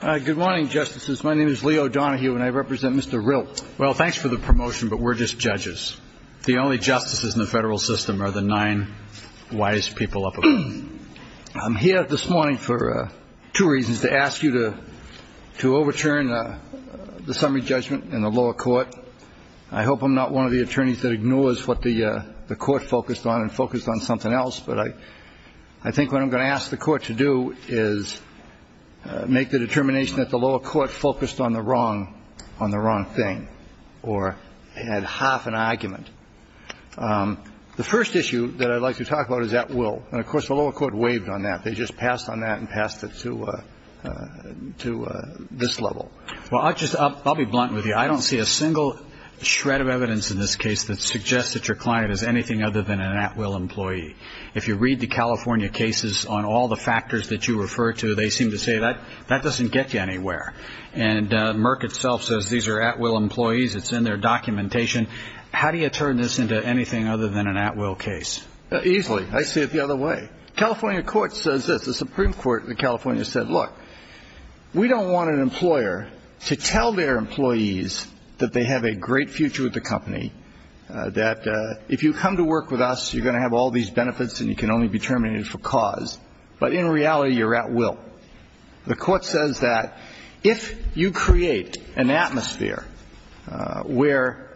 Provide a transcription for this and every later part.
Good morning, Justices. My name is Leo Donahue, and I represent Mr. Rill. Well, thanks for the promotion, but we're just judges. The only justices in the federal system are the nine wise people up above. I'm here this morning for two reasons, to ask you to overturn the summary judgment in the lower court. I hope I'm not one of the attorneys that ignores what the court focused on and focused on something else. But I think what I'm going to ask the court to do is make the determination that the lower court focused on the wrong, on the wrong thing or had half an argument. The first issue that I'd like to talk about is at will. And of course, the lower court waived on that. They just passed on that and passed it to to this level. Well, I'll just I'll be blunt with you. I don't see a single shred of evidence in this case that suggests that your client is anything other than an at will employee. If you read the California cases on all the factors that you refer to, they seem to say that that doesn't get you anywhere. And Merck itself says these are at will employees. It's in their documentation. How do you turn this into anything other than an at will case? Easily. I see it the other way. California court says that the Supreme Court of California said, look, we don't want an employer to tell their employees that they have a great future with the company, that if you come to work with us, you're going to have all these benefits and you can only be terminated for cause. But in reality, you're at will. The court says that if you create an atmosphere where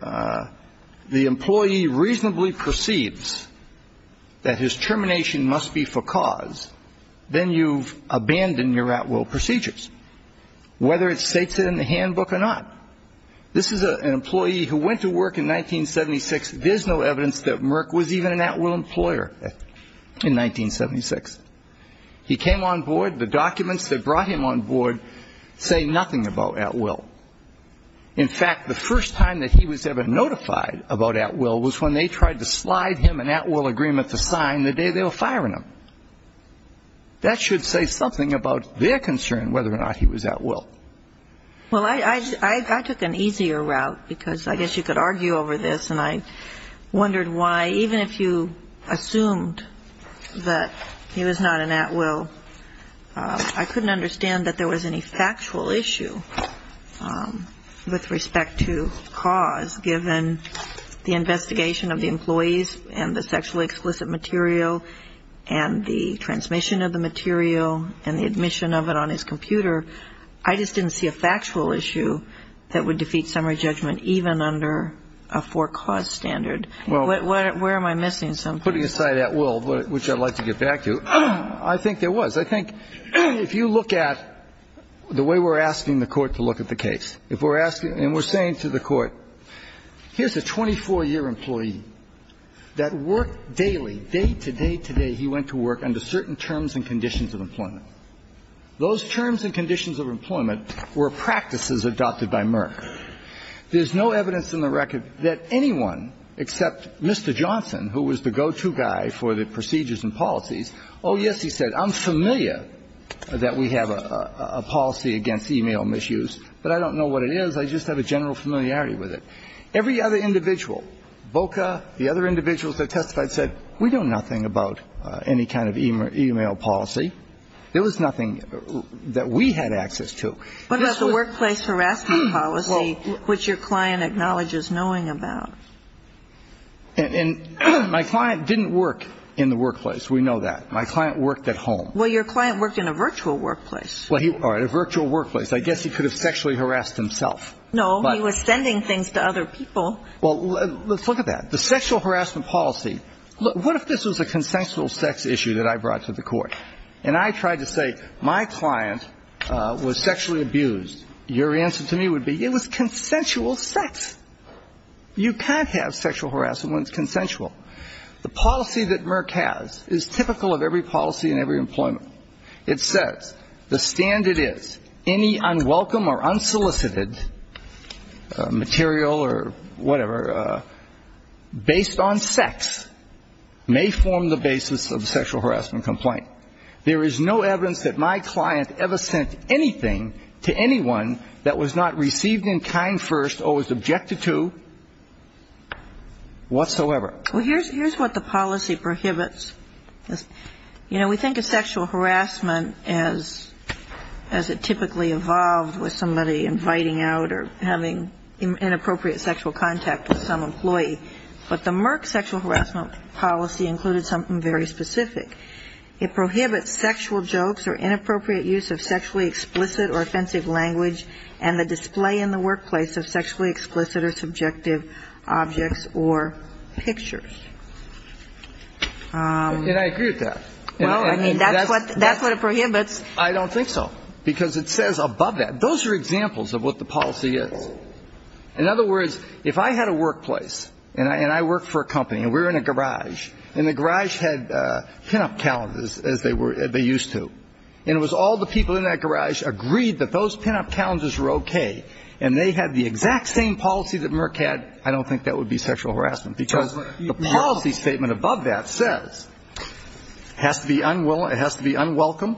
the employee reasonably perceives that his termination must be for cause, then you've abandoned your at will procedures, whether it states it in the handbook or not. This is an employee who went to work in 1976. There's no evidence that Merck was even an at will employer in 1976. He came on board. The documents that brought him on board say nothing about at will. In fact, the first time that he was ever notified about at will was when they tried to slide him an at will agreement to sign the day they were firing him. That should say something about their concern whether or not he was at will. Well, I took an easier route, because I guess you could argue over this, and I wondered why, even if you assumed that he was not an at will, I couldn't understand that there was any factual issue with respect to cause, given the investigation of the employees and the sexually explicit material and the transmission of the material and the admission of it on his computer. I just didn't see a factual issue that would defeat summary judgment, even under a for cause standard. Where am I missing something? Putting aside at will, which I'd like to get back to, I think there was. I think if you look at the way we're asking the Court to look at the case, if we're asking and we're saying to the Court, here's a 24-year employee that worked daily, day to day to day he went to work under certain terms and conditions of employment. There's no evidence in the record that anyone, except Mr. Johnson, who was the go-to guy for the procedures and policies, oh, yes, he said, I'm familiar that we have a policy against e-mail misuse, but I don't know what it is. I just have a general familiarity with it. Every other individual, VOCA, the other individuals that testified said, we know nothing about any kind of e-mail policy. There was nothing that we had access to. What about the workplace harassment policy, which your client acknowledges knowing about? And my client didn't work in the workplace. We know that. My client worked at home. Well, your client worked in a virtual workplace. A virtual workplace. I guess he could have sexually harassed himself. No, he was sending things to other people. Well, let's look at that. The sexual harassment policy, what if this was a consensual sex issue that I brought to the Court? And I tried to say, my client was sexually abused. Your answer to me would be, it was consensual sex. You can't have sexual harassment when it's consensual. The policy that Merck has is typical of every policy in every employment. It says, the standard is, any unwelcome or unsolicited material or whatever based on sex may form the basis of a sexual harassment complaint. There is no evidence that my client ever sent anything to anyone that was not received in kind first or was objected to whatsoever. Well, here's what the policy prohibits. You know, we think of sexual harassment as it typically evolved with somebody inviting out or having inappropriate sexual contact with some employee. But the Merck sexual harassment policy included something very specific. It prohibits sexual jokes or inappropriate use of sexually explicit or offensive language and the display in the workplace of sexually explicit or subjective objects or pictures. And I agree with that. Well, I mean, that's what it prohibits. I don't think so, because it says above that. Those are examples of what the policy is. In other words, if I had a workplace and I worked for a company and we were in a garage and the garage had pinup calendars as they used to, and it was all the people in that garage agreed that those pinup calendars were okay and they had the exact same policy that Merck had, I don't think that would be sexual harassment. Because the policy statement above that says it has to be unwelcome,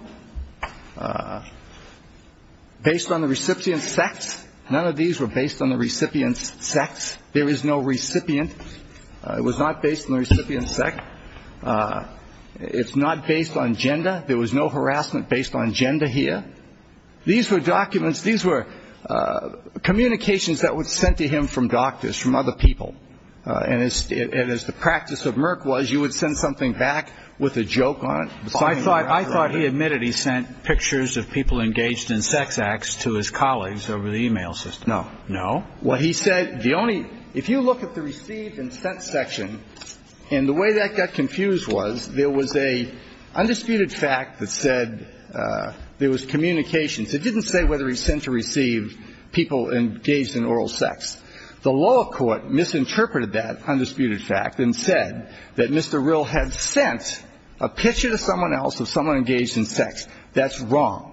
based on the recipient's sex. None of these were based on the recipient's sex. There is no recipient. It was not based on the recipient's sex. It's not based on gender. There was no harassment based on gender here. These were documents, these were communications that were sent to him from doctors, from other people. And as the practice of Merck was, you would send something back with a joke on it. So I thought he admitted he sent pictures of people engaged in sex acts to his colleagues over the e-mail system. No. No? Well, he said the only – if you look at the received and sent section, and the way that got confused was there was a undisputed fact that said there was communications. It didn't say whether he sent or received people engaged in oral sex. The lower court misinterpreted that undisputed fact and said that Mr. Rill had sent a picture to someone else of someone engaged in sex. That's wrong.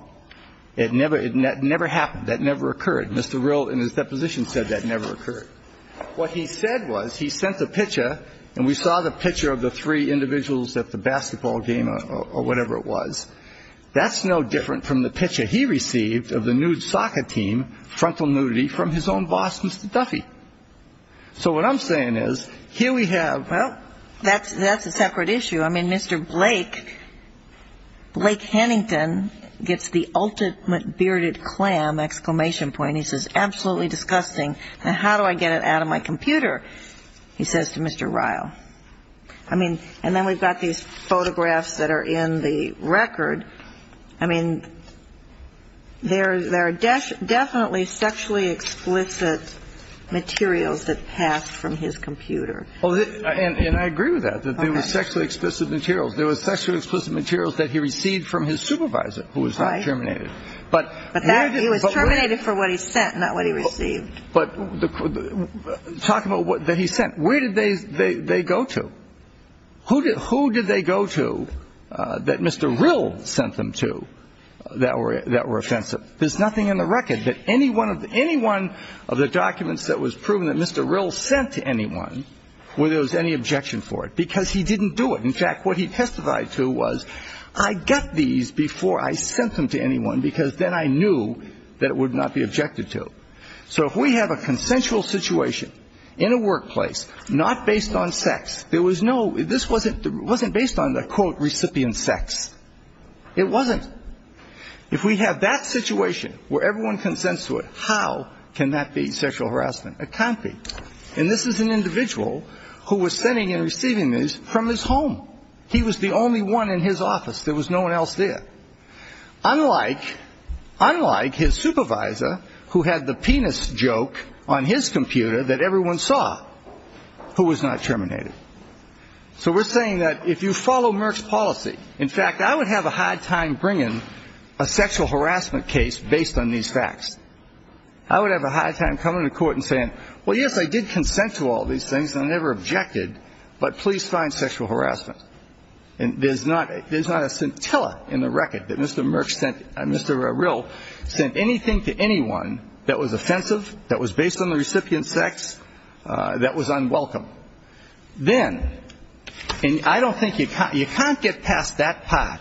It never happened. That never occurred. Mr. Rill in his deposition said that never occurred. What he said was he sent the picture and we saw the picture of the three individuals at the basketball game or whatever it was. That's no different from the picture he received of the nude soccer team, frontal nudity, from his own boss, Mr. Duffy. So what I'm saying is here we have – Well, that's a separate issue. I mean, Mr. Blake, Blake Hennington, gets the ultimate bearded clam exclamation point. He says, absolutely disgusting. Now, how do I get it out of my computer? He says to Mr. Rill. I mean, and then we've got these photographs that are in the record. I mean, there are definitely sexually explicit materials that passed from his computer. And I agree with that, that there was sexually explicit materials. There was sexually explicit materials that he received from his supervisor who was not terminated. Right. But he was terminated for what he sent, not what he received. But talk about what he sent. Where did they go to? Who did they go to that Mr. Rill sent them to that were offensive? There's nothing in the record that any one of the documents that was proven that Mr. Rill sent to anyone where there was any objection for it, because he didn't do it. In fact, what he testified to was, I got these before I sent them to anyone, because then I knew that it would not be objected to. So if we have a consensual situation in a workplace not based on sex, there was no – this wasn't based on the, quote, recipient sex. It wasn't. If we have that situation where everyone consents to it, how can that be sexual harassment? It can't be. And this is an individual who was sending and receiving these from his home. He was the only one in his office. There was no one else there. Unlike his supervisor, who had the penis joke on his computer that everyone saw, who was not terminated. So we're saying that if you follow Merck's policy – in fact, I would have a hard time bringing a sexual harassment case based on these facts. I would have a hard time coming to court and saying, well, yes, I did consent to all these things, and I never objected, but please find sexual harassment. And there's not a scintilla in the record that Mr. Merck sent – Mr. Rill sent anything to anyone that was offensive, that was based on the recipient sex, that was unwelcome. Then – and I don't think you – you can't get past that part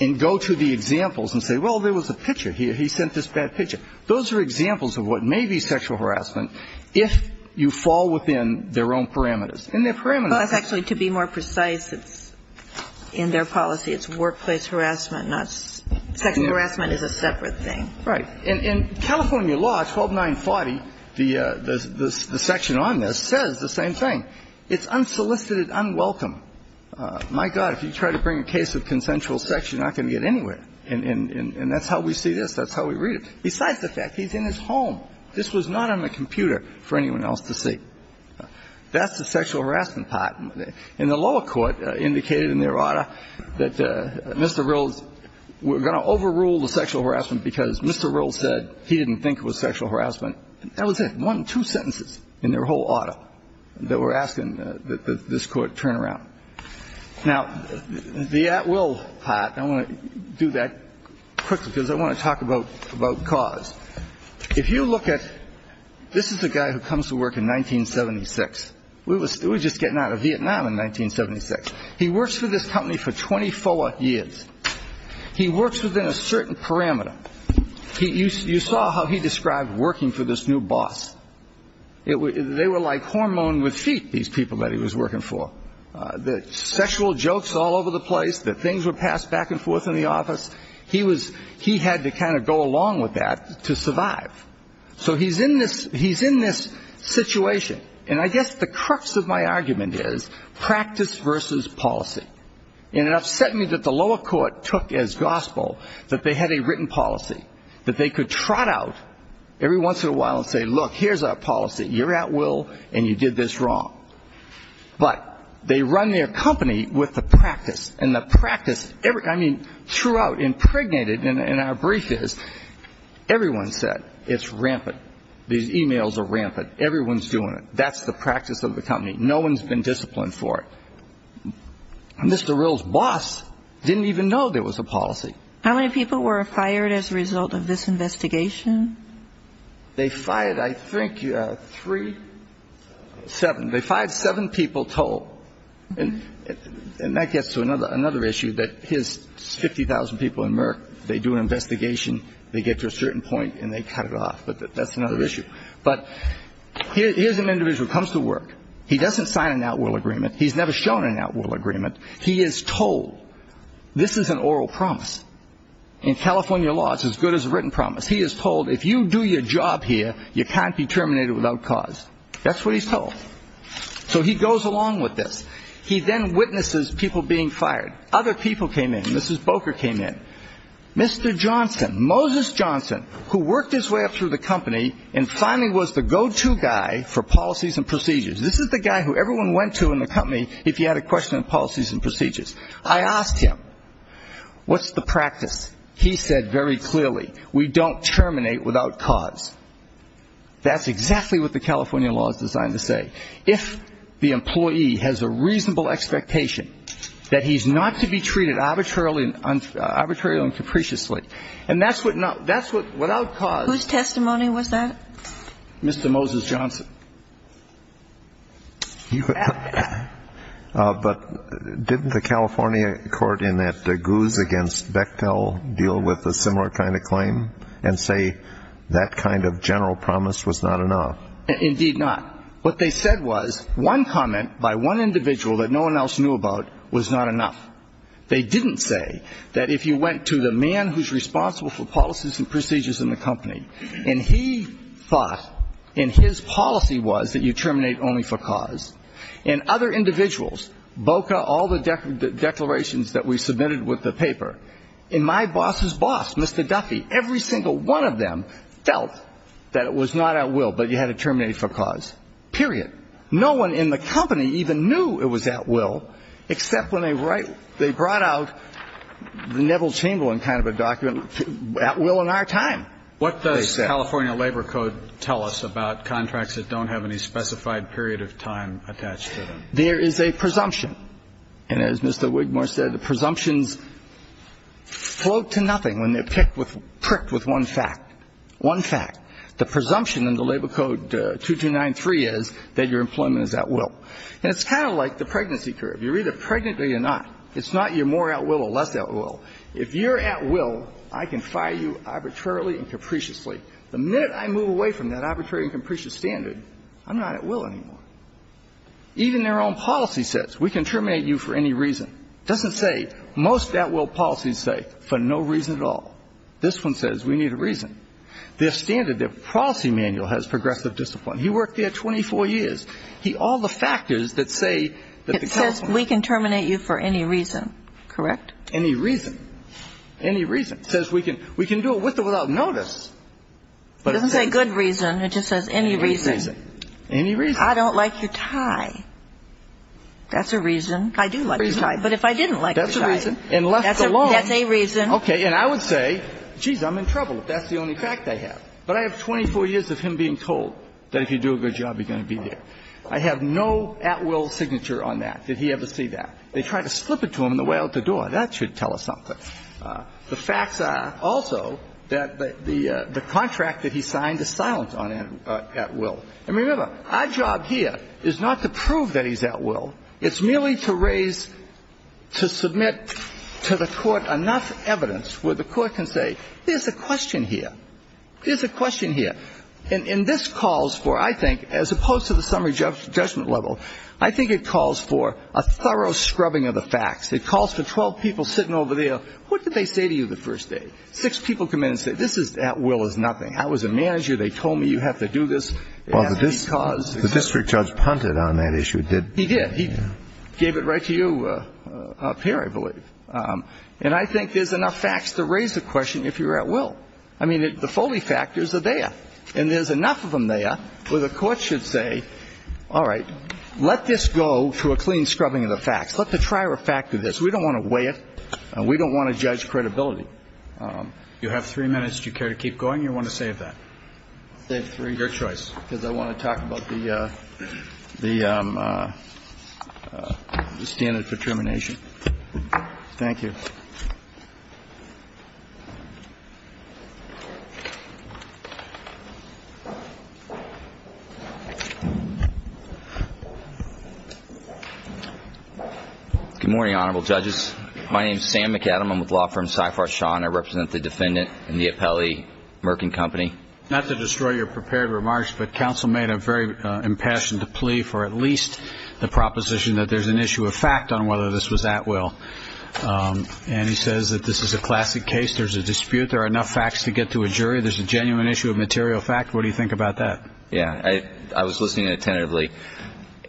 and go to the examples and say, well, there was a picture. He sent this bad picture. Those are examples of what may be sexual harassment if you fall within their own parameters. And their parameters – Well, it's actually, to be more precise, it's – in their policy, it's workplace harassment, not – sexual harassment is a separate thing. Right. In California law 12940, the section on this says the same thing. It's unsolicited, unwelcome. My God, if you try to bring a case of consensual sex, you're not going to get anywhere. And that's how we see this. That's how we read it. Besides the fact he's in his home. This was not on the computer for anyone else to see. That's the sexual harassment part. And the lower court indicated in their order that Mr. Rill's – we're going to overrule the sexual harassment because Mr. Rill said he didn't think it was sexual harassment. That was it. One, two sentences in their whole order that we're asking that this Court turn around. Now, the at-will part, I want to do that quickly because I want to talk about cause. If you look at – this is a guy who comes to work in 1976. We were just getting out of Vietnam in 1976. He works for this company for 24 years. He works within a certain parameter. You saw how he described working for this new boss. They were like hormone with feet, these people that he was working for. The sexual jokes all over the place, that things were passed back and forth in the office. He had to kind of go along with that to survive. So he's in this situation. And I guess the crux of my argument is practice versus policy. And it upset me that the lower court took as gospel that they had a written policy, that they could trot out every once in a while and say, look, here's our policy. You're at will and you did this wrong. But they run their company with the practice. And the practice, I mean, throughout impregnated in our brief is everyone said it's rampant. These emails are rampant. Everyone's doing it. That's the practice of the company. No one's been disciplined for it. Mr. Rill's boss didn't even know there was a policy. How many people were fired as a result of this investigation? They fired, I think, three, seven. They fired seven people total. And that gets to another issue, that his 50,000 people in Merck, they do an investigation, they get to a certain point and they cut it off. But that's another issue. But here's an individual who comes to work. He doesn't sign an at-will agreement. He's never shown an at-will agreement. He is told this is an oral promise. In California law, it's as good as a written promise. He is told if you do your job here, you can't be terminated without cause. That's what he's told. So he goes along with this. He then witnesses people being fired. Other people came in. Mrs. Boker came in. Mr. Johnson, Moses Johnson, who worked his way up through the company and finally was the go-to guy for policies and procedures. This is the guy who everyone went to in the company if you had a question on policies and procedures. I asked him, what's the practice? He said very clearly, we don't terminate without cause. That's exactly what the California law is designed to say. If the employee has a reasonable expectation that he's not to be treated arbitrarily and capriciously, and that's what without cause ---- Whose testimony was that? Mr. Moses Johnson. But didn't the California court in that goose against Bechtel deal with a similar kind of claim and say that kind of general promise was not enough? Indeed not. What they said was one comment by one individual that no one else knew about was not enough. They didn't say that if you went to the man who's responsible for policies and procedures in the company and he thought and his policy was that you terminate only for cause, and other individuals, BOCA, all the declarations that we submitted with the paper, and my boss's boss, Mr. Duffy, every single one of them felt that it was not at will, but you had to terminate for cause, period. No one in the company even knew it was at will, except when they brought out the Neville Chamberlain kind of a document, at will in our time. What does California Labor Code tell us about contracts that don't have any specified period of time attached to them? There is a presumption. And as Mr. Wigmore said, the presumptions float to nothing when they're pricked with one fact. One fact. The presumption in the Labor Code 2293 is that your employment is at will. And it's kind of like the pregnancy curve. You're either pregnant or you're not. It's not you're more at will or less at will. If you're at will, I can fire you arbitrarily and capriciously. The minute I move away from that arbitrary and capricious standard, I'm not at will anymore. Even their own policy says we can terminate you for any reason. It doesn't say most at will policies say for no reason at all. This one says we need a reason. Their standard, their policy manual has progressive discipline. He worked there 24 years. He all the factors that say that the California. It says we can terminate you for any reason. Correct? Any reason. Any reason. It says we can do it with or without notice. It doesn't say good reason. It just says any reason. Any reason. Any reason. I don't like your tie. That's a reason. I do like your tie. But if I didn't like your tie. That's a reason. And left alone. That's a reason. Okay. And I would say, geez, I'm in trouble if that's the only fact I have. But I have 24 years of him being told that if you do a good job, you're going to be there. I have no at will signature on that, that he ever see that. They try to slip it to him on the way out the door. That should tell us something. The facts are also that the contract that he signed is silent on at will. And remember, our job here is not to prove that he's at will. It's merely to raise, to submit to the Court enough evidence where the Court can say, there's a question here. There's a question here. And this calls for, I think, as opposed to the summary judgment level, I think it calls for a thorough scrubbing of the facts. It calls for 12 people sitting over there. What did they say to you the first day? Six people come in and say, this is at will is nothing. I was a manager. They told me you have to do this. Well, the district judge punted on that issue. He did. He gave it right to you up here, I believe. And I think there's enough facts to raise the question if you're at will. I mean, the Foley factors are there. And there's enough of them there where the Court should say, all right, let this go through a clean scrubbing of the facts. Let the trier factor this. We don't want to weigh it, and we don't want to judge credibility. You have three minutes. Do you care to keep going, or do you want to save that? Save three. Your choice. Because I want to talk about the standard for termination. Thank you. Good morning, honorable judges. My name is Sam McAdam. I'm with law firm CIFAR-SHAW, and I represent the defendant in the Apelli Merkin Company. Not to destroy your prepared remarks, but counsel made a very impassioned plea for at least the proposition that there's an issue of fact on whether this was at will. And he says that this is a classic case. There's a dispute. There are enough facts to get to a jury. There's a genuine issue of material fact. What do you think about that? Yeah. I was listening attentively.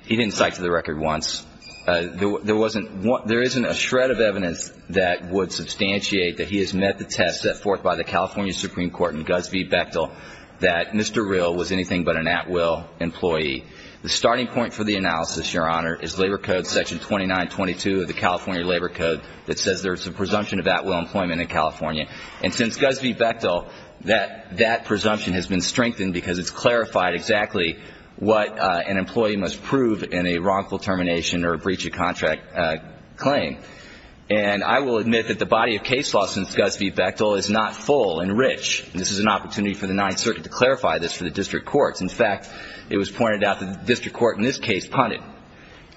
He didn't cite to the record once. There isn't a shred of evidence that would substantiate that he has met the test set forth by the California Supreme Court and Gus V. Bechtel that Mr. Rill was anything but an at will employee. The starting point for the analysis, Your Honor, is Labor Code Section 2922 of the California Labor Code that says there's a presumption of at will employment in California. And since Gus V. Bechtel, that presumption has been strengthened because it's clarified exactly what an employee must prove in a wrongful termination or a breach of contract claim. And I will admit that the body of case law since Gus V. Bechtel is not full and rich. This is an opportunity for the Ninth Circuit to clarify this for the district courts. In fact, it was pointed out that the district court in this case punted.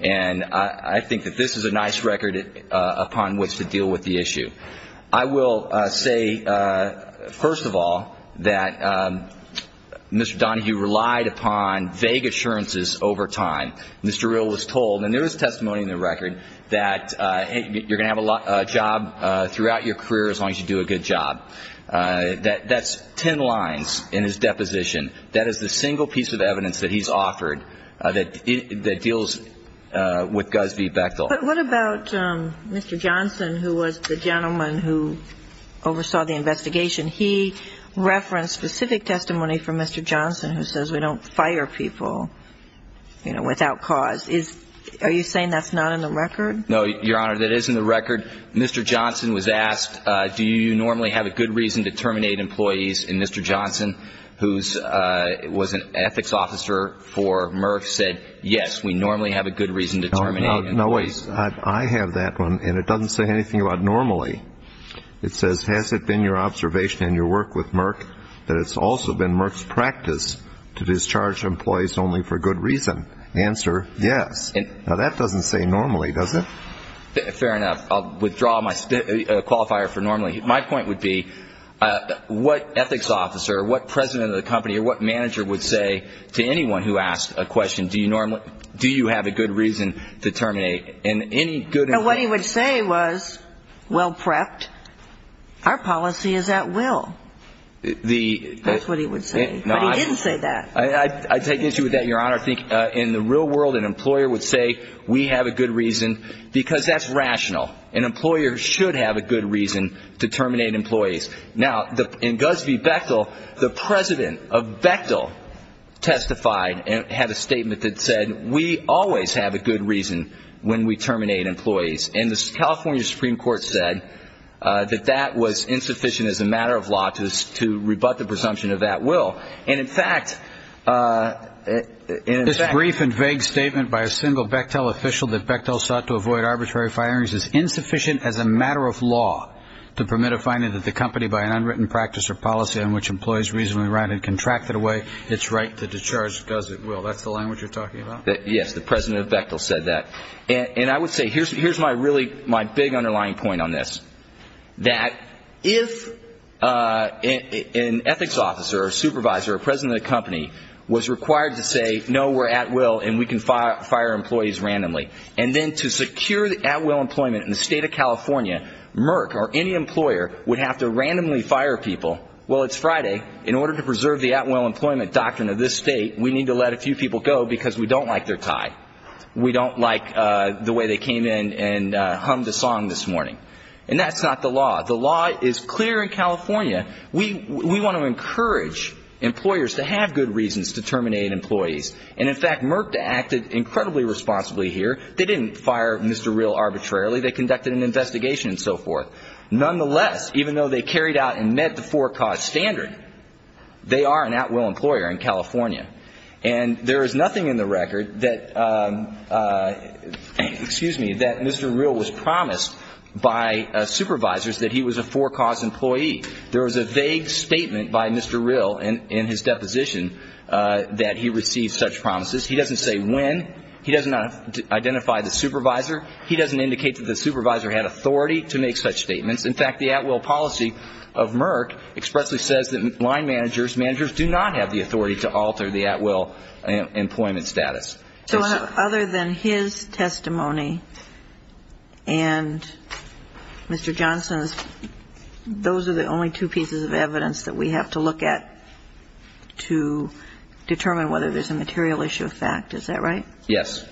And I think that this is a nice record upon which to deal with the issue. I will say, first of all, that Mr. Donahue relied upon vague assurances over time. Mr. Rill was told, and there is testimony in the record, that you're going to have a job throughout your career as long as you do a good job. That's ten lines in his deposition. That is the single piece of evidence that he's offered that deals with Gus V. Bechtel. But what about Mr. Johnson, who was the gentleman who oversaw the investigation? He referenced specific testimony from Mr. Johnson who says we don't fire people, you know, without cause. Are you saying that's not in the record? No, Your Honor, that is in the record. Mr. Johnson was asked, do you normally have a good reason to terminate employees? And Mr. Johnson, who was an ethics officer for Merck, said, yes, we normally have a good reason to terminate employees. No, wait. I have that one, and it doesn't say anything about normally. It says, has it been your observation in your work with Merck that it's also been Merck's practice to discharge employees only for good reason? Answer, yes. Now, that doesn't say normally, does it? Fair enough. I'll withdraw my qualifier for normally. My point would be, what ethics officer or what president of the company or what manager would say to anyone who asks a question, do you normally do you have a good reason to terminate? And what he would say was, well prepped, our policy is at will. That's what he would say. But he didn't say that. I take issue with that, Your Honor. I think in the real world an employer would say we have a good reason because that's rational. An employer should have a good reason to terminate employees. Now, in Gusby Bechtel, the president of Bechtel testified and had a statement that said, we always have a good reason when we terminate employees. And the California Supreme Court said that that was insufficient as a matter of law to rebut the presumption of that will. And, in fact ‑‑ This brief and vague statement by a single Bechtel official that Bechtel sought to avoid arbitrary firings is insufficient as a matter of law to permit a finding that the company by an unwritten practice or policy on which employees reasonably ran and contracted away its right to discharge because it will. That's the language you're talking about? Yes. The president of Bechtel said that. And I would say, here's my really big underlying point on this. That if an ethics officer or supervisor or president of the company was required to say, no, we're at will and we can fire employees randomly, and then to secure the at will employment in the state of California, Merck or any employer would have to randomly fire people, well, it's Friday, in order to preserve the at will employment doctrine of this state, we need to let a few people go because we don't like their tie. We don't like the way they came in and hummed a song this morning. And that's not the law. The law is clear in California. We want to encourage employers to have good reasons to terminate employees. And, in fact, Merck acted incredibly responsibly here. They didn't fire Mr. Real arbitrarily. They conducted an investigation and so forth. Nonetheless, even though they carried out and met the four cause standard, they are an at will employer in California. And there is nothing in the record that Mr. Real was promised by supervisors that he was a four cause employee. There was a vague statement by Mr. Real in his deposition that he received such promises. He doesn't say when. He doesn't identify the supervisor. He doesn't indicate that the supervisor had authority to make such statements. In fact, the at will policy of Merck expressly says that line managers, managers do not have the authority to alter the at will employment status. So other than his testimony and Mr. Johnson's, those are the only two pieces of evidence that we have to look at to determine whether there's a material issue of fact. Is that right? Yes.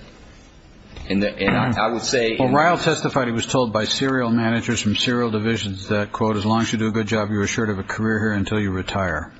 And I would say. Well, Real testified he was told by serial managers from serial divisions that, quote, as long as you do a good job, you're assured of a career here until you retire.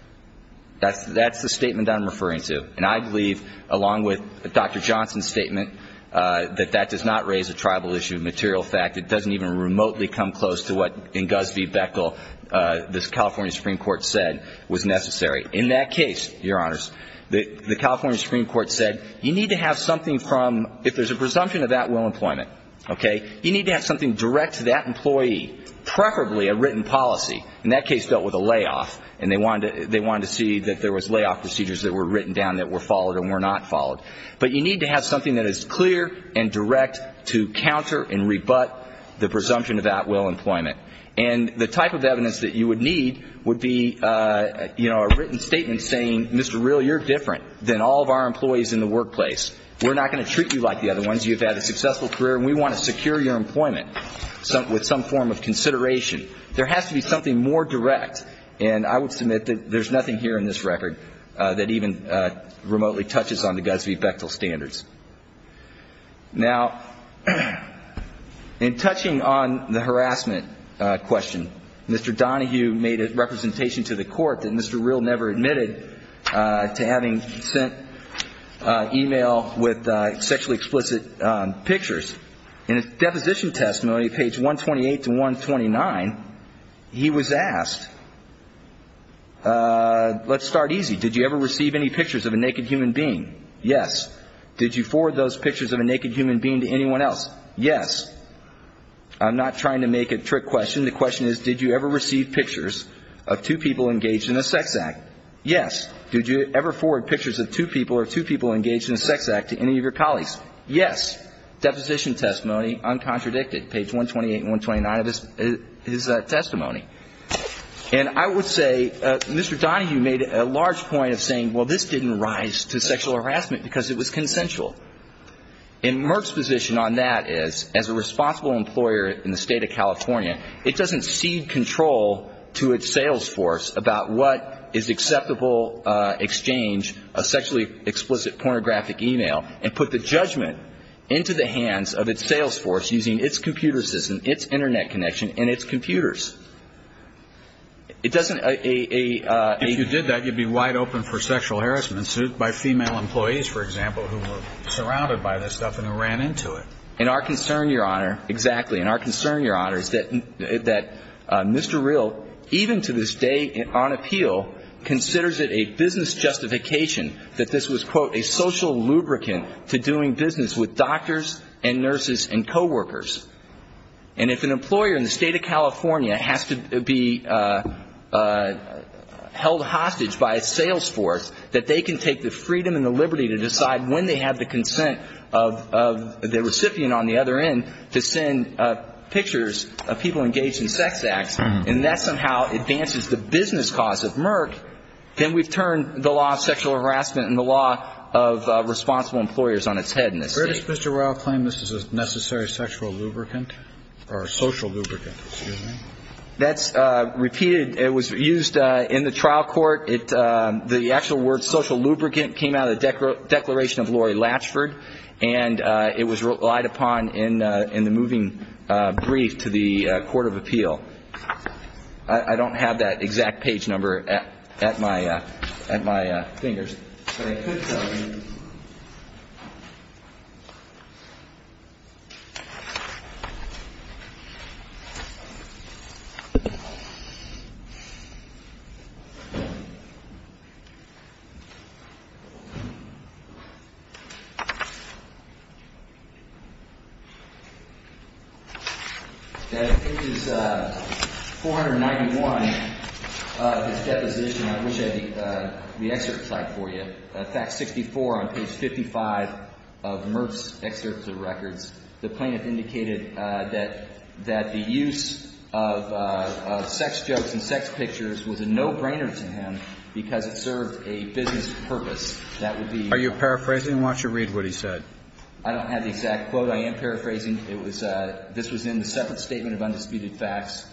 That's the statement I'm referring to. And I believe, along with Dr. Johnson's statement, that that does not raise a tribal issue of material fact. It doesn't even remotely come close to what in Gusby Beckle the California Supreme Court said was necessary. In that case, Your Honors, the California Supreme Court said you need to have something from, if there's a presumption of at will employment, okay, you need to have something direct to that employee, preferably a written policy. In that case, dealt with a layoff. And they wanted to see that there was layoff procedures that were written down that were followed and were not followed. But you need to have something that is clear and direct to counter and rebut the presumption of at will employment. And the type of evidence that you would need would be, you know, a written statement saying, Mr. Real, you're different than all of our employees in the workplace. We're not going to treat you like the other ones. You've had a successful career and we want to secure your employment with some form of consideration. There has to be something more direct. And I would submit that there's nothing here in this record that even remotely touches on the Gusby Beckle standards. Now, in touching on the harassment question, Mr. Donahue made a representation to the court that Mr. Real never admitted to having sent email with sexually explicit pictures. In his deposition testimony, page 128 to 129, he was asked, let's start easy. Did you ever receive any pictures of a naked human being? Yes. Did you forward those pictures of a naked human being to anyone else? Yes. I'm not trying to make a trick question. The question is, did you ever receive pictures of two people engaged in a sex act? Yes. Did you ever forward pictures of two people or two people engaged in a sex act to any of your colleagues? Yes. Deposition testimony, uncontradicted, page 128 and 129 of his testimony. And I would say Mr. Donahue made a large point of saying, well, this didn't rise to sexual harassment because it was consensual. And Merck's position on that is, as a responsible employer in the State of California, it doesn't cede control to its sales force about what is acceptable exchange of sexually explicit pornographic email and put the judgment into the hands of its sales force using its computer system, its Internet connection, and its computers. It doesn't ---- If you did that, you'd be wide open for sexual harassment by female employees, for example, who were surrounded by this stuff and who ran into it. And our concern, Your Honor, exactly, and our concern, Your Honor, is that Mr. Rill, even to this day on appeal, considers it a business justification that this was, quote, a social lubricant to doing business with doctors and nurses and coworkers. And if an employer in the State of California has to be held hostage by its sales force, that they can take the freedom and the liberty to decide when they have the consent of the recipient on the other end to send pictures of people engaged in sex acts, and that somehow advances the business cause of Merck, then we've turned the law of sexual harassment and the law of responsible employers on its head in this State. Does Mr. Rill claim this is a necessary sexual lubricant or a social lubricant, excuse me? That's repeated. It was used in the trial court. The actual word social lubricant came out of the declaration of Lori Latchford, and it was relied upon in the moving brief to the court of appeal. I don't have that exact page number at my fingers. But I could tell you. Page 491 of his deposition, I wish I had the excerpt slide for you. of Merck's excerpts of records. The plaintiff indicated that the use of sex jokes and sex pictures was a no-brainer to him because it served a business purpose. That would be my point. Are you paraphrasing? I want you to read what he said. I don't have the exact quote. I am paraphrasing. This was in the separate statement of undisputed facts.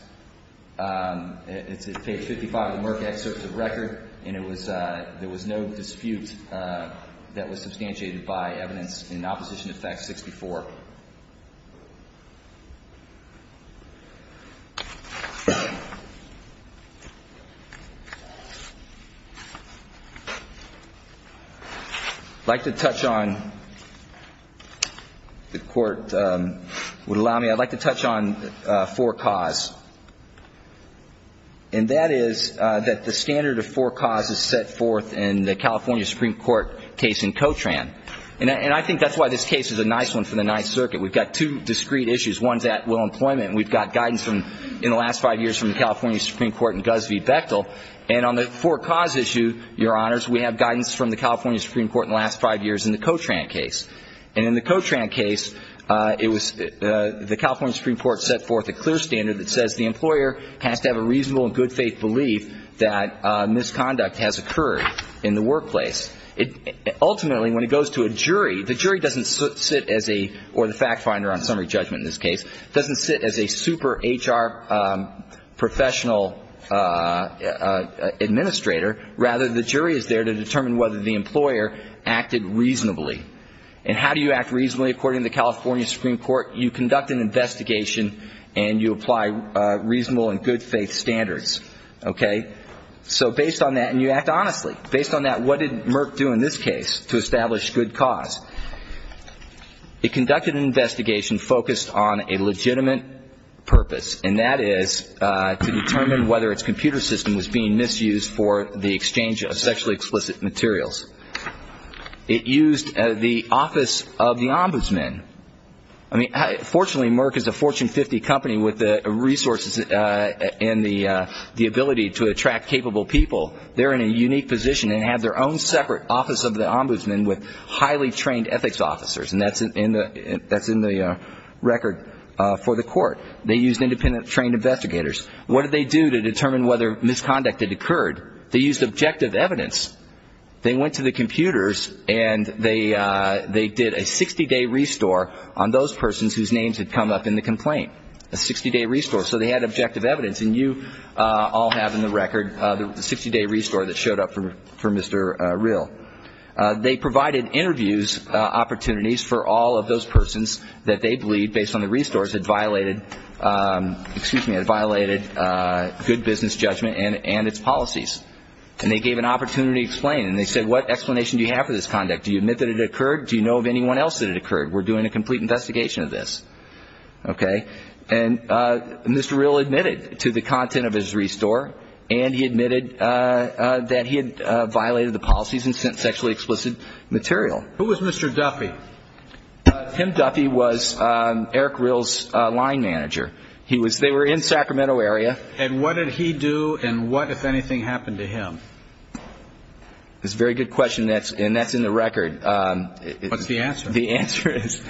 It's at page 55 of the Merck excerpts of record, and there was no dispute that was substantiated by evidence in opposition to fact 64. I'd like to touch on, if the court would allow me, I'd like to touch on four cause. And that is that the standard of four cause is set forth in the California Supreme Court case in Cotran. And I think that's why this case is a nice one for the Ninth Circuit. We've got two discreet issues. One's at will employment, and we've got guidance in the last five years from the California Supreme Court and Guzz V. Bechtel. And on the four cause issue, Your Honors, we have guidance from the California Supreme Court in the last five years in the Cotran case. And in the Cotran case, it was the California Supreme Court set forth a clear standard that says the employer has to have a reasonable and good faith belief that misconduct has occurred in the workplace. Ultimately, when it goes to a jury, the jury doesn't sit as a, or the fact finder on summary judgment in this case, doesn't sit as a super HR professional administrator. Rather, the jury is there to determine whether the employer acted reasonably. And how do you act reasonably? According to the California Supreme Court, you conduct an investigation and you apply reasonable and good faith standards. Okay? So based on that, and you act honestly, based on that, what did Merck do in this case to establish good cause? It conducted an investigation focused on a legitimate purpose, and that is to determine whether its computer system was being misused for the exchange of sexually explicit materials. It used the office of the ombudsman. I mean, fortunately, Merck is a Fortune 50 company with the resources and the ability to attract capable people. They're in a unique position and have their own separate office of the ombudsman with highly trained ethics officers. They used independent trained investigators. What did they do to determine whether misconduct had occurred? They used objective evidence. They went to the computers and they did a 60-day restore on those persons whose names had come up in the complaint. A 60-day restore. So they had objective evidence, and you all have in the record the 60-day restore that showed up for Mr. Rill. They provided interviews opportunities for all of those persons that they believe, based on the restores, had violated good business judgment and its policies. And they gave an opportunity to explain, and they said, what explanation do you have for this conduct? Do you admit that it occurred? Do you know of anyone else that it occurred? We're doing a complete investigation of this. Okay. And Mr. Rill admitted to the content of his restore, and he admitted that he had violated the policies and sent sexually explicit material. Who was Mr. Duffy? Tim Duffy was Eric Rill's line manager. They were in Sacramento area. And what did he do, and what, if anything, happened to him? That's a very good question, and that's in the record. What's the answer? The answer is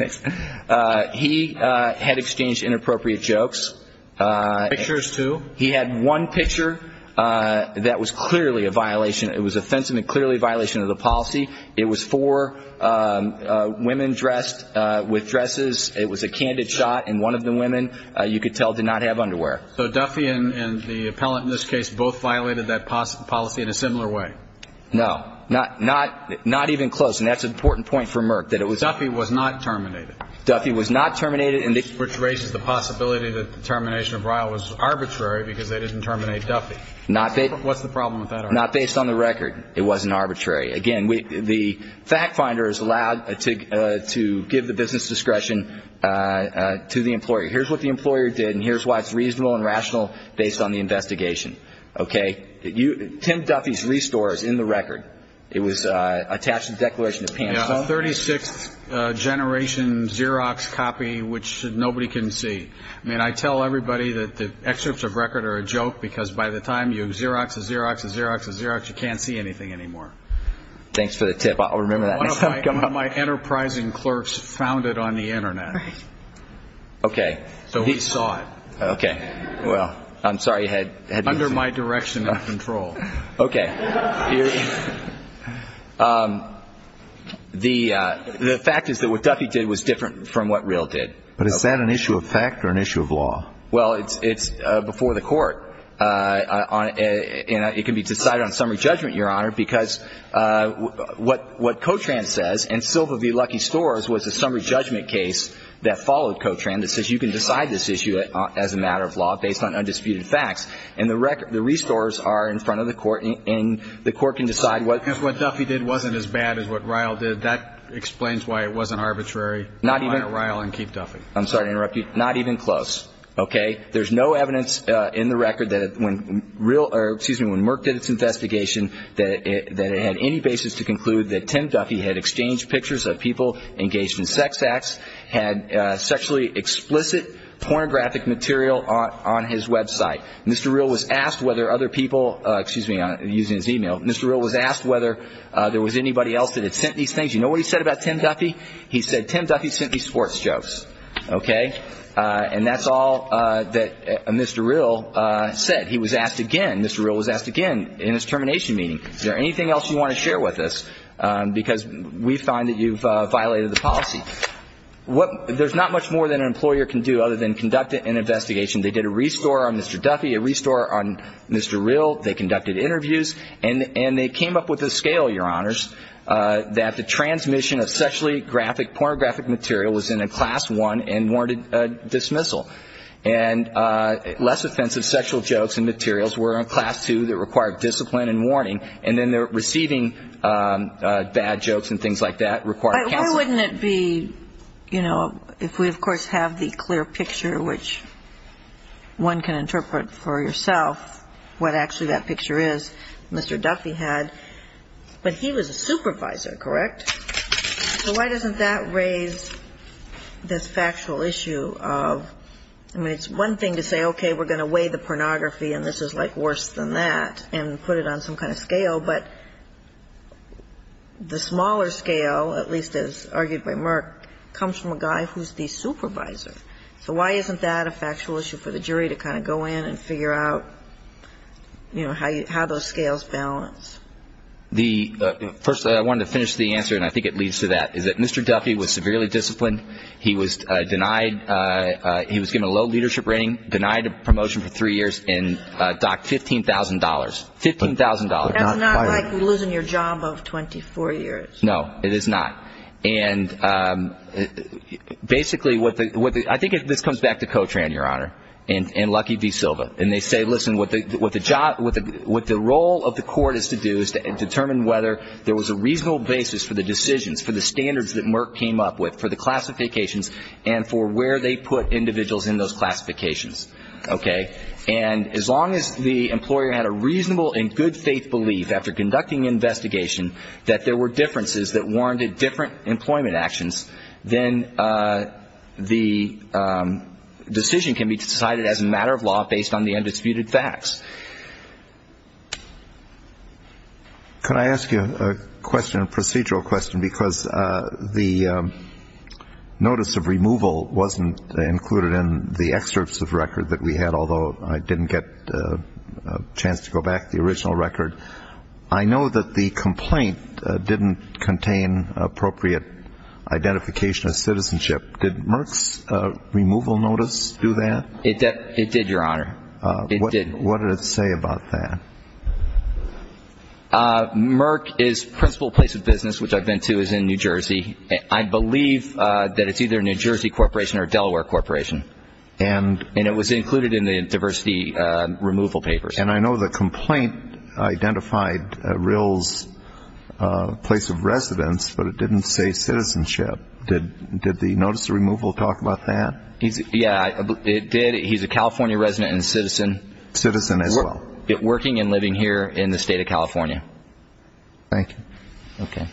he had exchanged inappropriate jokes. Pictures, too? He had one picture that was clearly a violation. It was offensive and clearly a violation of the policy. It was four women dressed with dresses. It was a candid shot, and one of the women, you could tell, did not have underwear. So Duffy and the appellant in this case both violated that policy in a similar way? No. Not even close, and that's an important point for Merck. Duffy was not terminated. Duffy was not terminated. Which raises the possibility that the termination of Rill was arbitrary because they didn't terminate Duffy. What's the problem with that argument? Not based on the record. It wasn't arbitrary. Again, the fact finder is allowed to give the business discretion to the employer. Here's what the employer did, and here's why it's reasonable and rational based on the investigation. Okay? Tim Duffy's restore is in the record. It was attached to the Declaration of Pamphlet. A 36th generation Xerox copy which nobody can see. I mean, I tell everybody that the excerpts of record are a joke because by the time you Xerox a Xerox a Xerox a Xerox, you can't see anything anymore. Thanks for the tip. I'll remember that next time I come up. One of my enterprising clerks found it on the Internet. Okay. So he saw it. Okay. Well, I'm sorry you had to use it. Under my direction and control. Okay. The fact is that what Duffy did was different from what Real did. But is that an issue of fact or an issue of law? Well, it's before the court. It can be decided on summary judgment, Your Honor, because what Cotran says, and Silva v. Lucky Stores was a summary judgment case that followed Cotran that says you can decide this issue as a matter of law based on undisputed facts. And the restores are in front of the court, and the court can decide what. If what Duffy did wasn't as bad as what Real did, that explains why it wasn't arbitrary. Not even. Why don't Real and keep Duffy. I'm sorry to interrupt you. Not even close. Okay. There's no evidence in the record that when Real or, excuse me, when Merck did its investigation, that it had any basis to conclude that Tim Duffy had exchanged pictures of people engaged in sex acts, had sexually explicit pornographic material on his website. Mr. Real was asked whether other people, excuse me, using his e-mail, Mr. Real was asked whether there was anybody else that had sent these things. You know what he said about Tim Duffy? He said Tim Duffy sent me sports jokes. Okay. And that's all that Mr. Real said. He was asked again, Mr. Real was asked again in his termination meeting, is there anything else you want to share with us because we find that you've violated the policy. There's not much more that an employer can do other than conduct an investigation. They did a restore on Mr. Duffy, a restore on Mr. Real. They conducted interviews. And they came up with a scale, Your Honors, that the transmission of sexually graphic, pornographic material was in a Class I and warranted a dismissal. And less offensive sexual jokes and materials were in Class II that required discipline and warning. Why wouldn't it be, you know, if we, of course, have the clear picture, which one can interpret for yourself what actually that picture is, Mr. Duffy had. But he was a supervisor, correct? So why doesn't that raise this factual issue of, I mean, it's one thing to say, okay, we're going to weigh the pornography and this is, like, worse than that and put it on some kind of scale. But the smaller scale, at least as argued by Merck, comes from a guy who's the supervisor. So why isn't that a factual issue for the jury to kind of go in and figure out, you know, how those scales balance? First, I wanted to finish the answer, and I think it leads to that, is that Mr. Duffy was severely disciplined. He was denied he was given a low leadership rating, denied a promotion for three years, and docked $15,000. $15,000. That's not like losing your job of 24 years. No, it is not. And basically what the ‑‑ I think this comes back to Cotran, Your Honor, and Lucky V. Silva. And they say, listen, what the role of the court is to do is to determine whether there was a reasonable basis for the decisions, for the standards that Merck came up with, for the classifications, and for where they put individuals in those classifications, okay? And as long as the employer had a reasonable and good faith belief after conducting the investigation that there were differences that warranted different employment actions, then the decision can be decided as a matter of law based on the undisputed facts. Can I ask you a question, a procedural question, because the notice of removal wasn't included in the excerpts of record that we had, although I didn't get a chance to go back to the original record. I know that the complaint didn't contain appropriate identification of citizenship. Did Merck's removal notice do that? It did, Your Honor. It did. What did it say about that? Merck is principal place of business, which I've been to, is in New Jersey. I believe that it's either New Jersey Corporation or Delaware Corporation. And it was included in the diversity removal papers. And I know the complaint identified Rill's place of residence, but it didn't say citizenship. Did the notice of removal talk about that? Yeah, it did. He's a California resident and citizen. Citizen as well. Working and living here in the state of California. Thank you. Okay.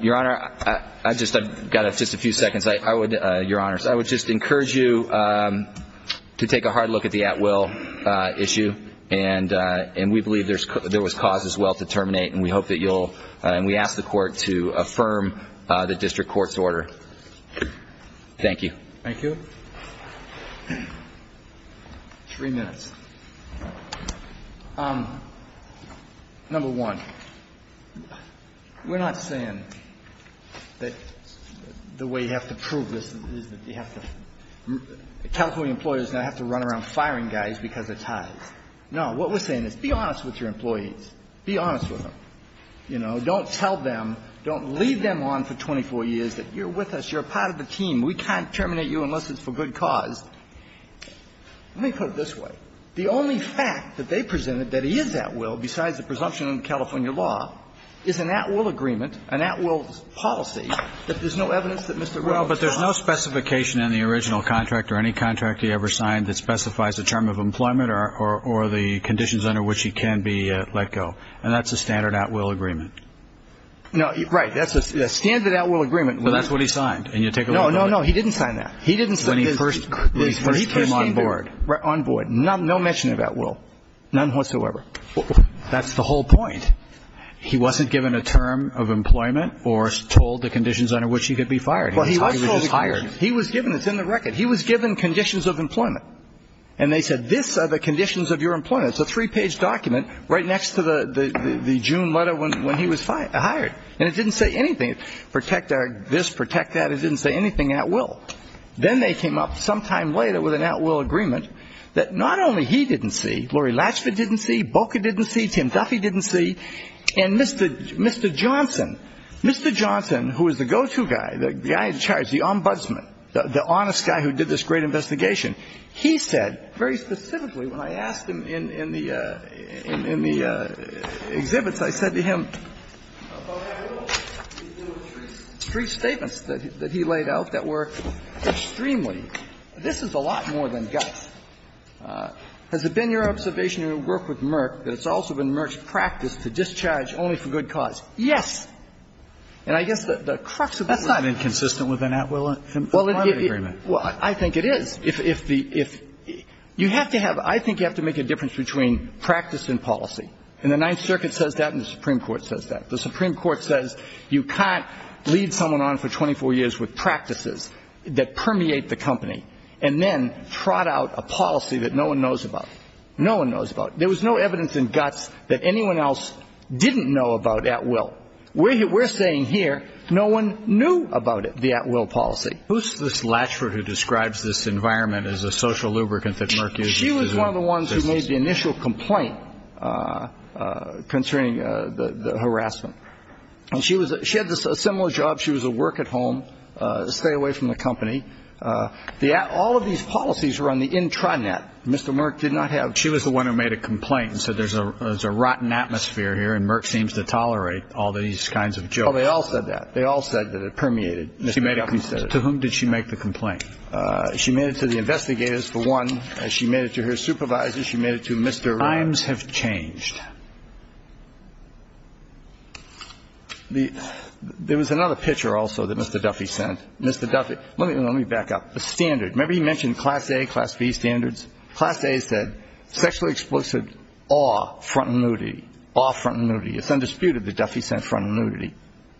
Your Honor, I've got just a few seconds. Your Honors, I would just encourage you to take a hard look at the at-will issue, and we believe there was cause as well to terminate, and we ask the Court to affirm the district court's order. Thank you. Thank you. Three minutes. Number one, we're not saying that the way you have to prove this is that you have to – California employers now have to run around firing guys because of ties. No. What we're saying is be honest with your employees. Be honest with them. You know, don't tell them, don't lead them on for 24 years that you're with us, you're a part of the team. We can't terminate you unless it's for good cause. Let me put it this way. The only fact that they presented that he is at-will, besides the presumption of the California law, is an at-will agreement, an at-will policy, that there's no evidence that Mr. Rowe was at-will. Well, but there's no specification in the original contract or any contract he ever signed that specifies the term of employment or the conditions under which he can be let go, and that's a standard at-will agreement. No. Right. That's a standard at-will agreement. Well, that's what he signed, and you take a look at it. No, no, no. He didn't sign that. He didn't sign this. When he first came on board. Right. On board. No mention of at-will. None whatsoever. That's the whole point. He wasn't given a term of employment or told the conditions under which he could be fired. He was just hired. Well, he was told the conditions. He was given. It's in the record. He was given conditions of employment. And they said, this are the conditions of your employment. It's a three-page document right next to the June letter when he was hired. And it didn't say anything. It didn't say protect this, protect that. It didn't say anything at-will. Then they came up sometime later with an at-will agreement that not only he didn't see, Lori Latchford didn't see, Boca didn't see, Tim Duffy didn't see, and Mr. Johnson, Mr. Johnson, who was the go-to guy, the guy in charge, the ombudsman, the honest guy who did this great investigation, he said very specifically when I asked him in the exhibits, I said to him, It's a lot more than guts. And so he said, yes. And so I'm going to go back to the other two. Three statements that he laid out that were extremely, this is a lot more than guts. Has it been your observation in your work with Merck that it's also been Merck's practice to discharge only for good cause? Yes. And I guess the crux of the matter... That's not inconsistent with an Atwill agreement. Well, I think it is. You have to have, I think you have to make a difference between practice and policy. And the Ninth Circuit says that and the Supreme Court says that. The Supreme Court says you can't lead someone on for 24 years with practices that permeate the company and then trot out a policy that no one knows about. No one knows about. There was no evidence in guts that anyone else didn't know about Atwill. We're saying here, no one knew about the Atwill policy. Who's this Latchford who describes this environment as a social lubricant that Merck uses? She was one of the ones who made the initial complaint concerning the harassment. And she had a similar job. She was a work at home, a stay away from the company. All of these policies were on the intranet. Mr. Merck did not have... She was the one who made a complaint and said there's a rotten atmosphere here and Merck seems to tolerate all these kinds of jokes. Oh, they all said that. They all said that it permeated. Mr. Duffy said it. To whom did she make the complaint? She made it to the investigators, for one. And she made it to her supervisors. She made it to Mr. Merck. Times have changed. There was another picture also that Mr. Duffy sent. Mr. Duffy, let me back up. A standard. Remember he mentioned Class A, Class B standards? Class A said sexually explicit awe, front and nudity. Awe, front and nudity. It's undisputed that Duffy sent front and nudity.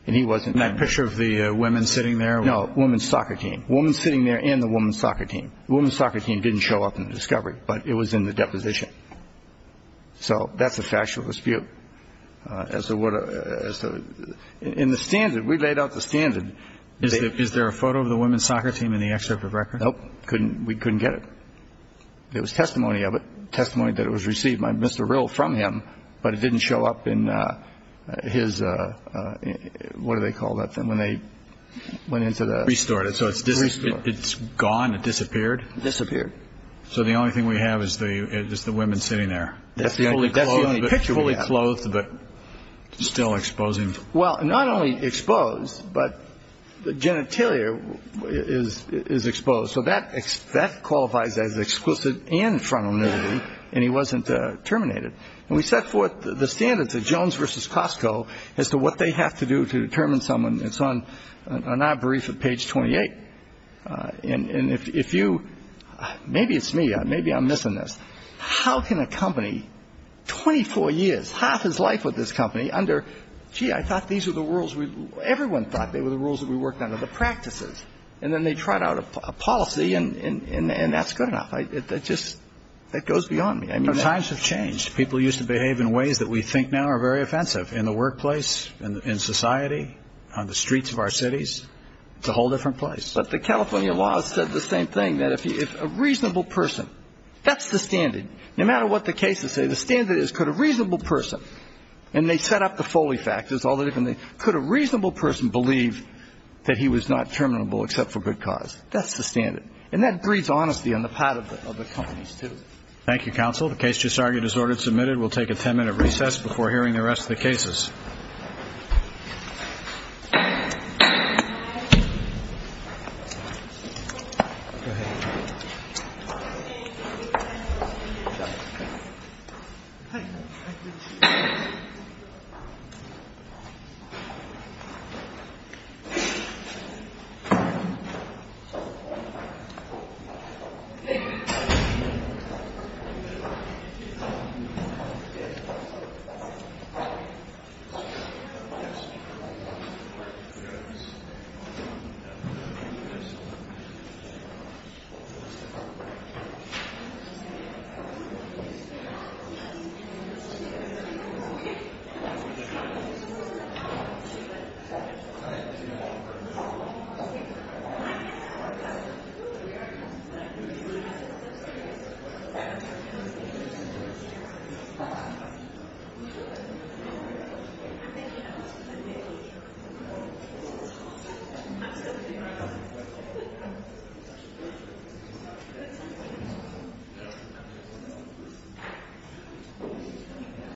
And he wasn't... And that picture of the women sitting there? No, women's soccer team. Women sitting there and the women's soccer team. The women's soccer team didn't show up in the discovery, but it was in the deposition. So that's a factual dispute. In the standard, we laid out the standard. Is there a photo of the women's soccer team in the excerpt of record? Nope. We couldn't get it. There was testimony of it, testimony that it was received by Mr. Rill from him, but it didn't show up in his, what do they call that thing, when they went into the... Restored it. So it's gone, it disappeared. Disappeared. So the only thing we have is the women sitting there. That's the only picture we have. Fully clothed, but still exposing. Well, not only exposed, but the genitalia is exposed. So that qualifies as exclusive and frontal nudity, and he wasn't terminated. And we set forth the standards at Jones v. Costco as to what they have to do to determine someone. It's on our brief at page 28. And if you, maybe it's me, maybe I'm missing this. How can a company, 24 years, half his life with this company under, gee, I thought these were the rules. Everyone thought they were the rules that we worked under, the practices. And then they trot out a policy, and that's good enough. It just goes beyond me. Times have changed. People used to behave in ways that we think now are very offensive. In the workplace, in society, on the streets of our cities. It's a whole different place. But the California law said the same thing, that if a reasonable person, that's the standard. No matter what the cases say, the standard is could a reasonable person, and they set up the Foley factors, could a reasonable person believe that he was not terminable except for good cause. That's the standard. And that breeds honesty on the part of the companies, too. Thank you, counsel. The case just argued as ordered, submitted. We'll take a ten-minute recess before hearing the rest of the cases. Thank you. Thank you. Thank you.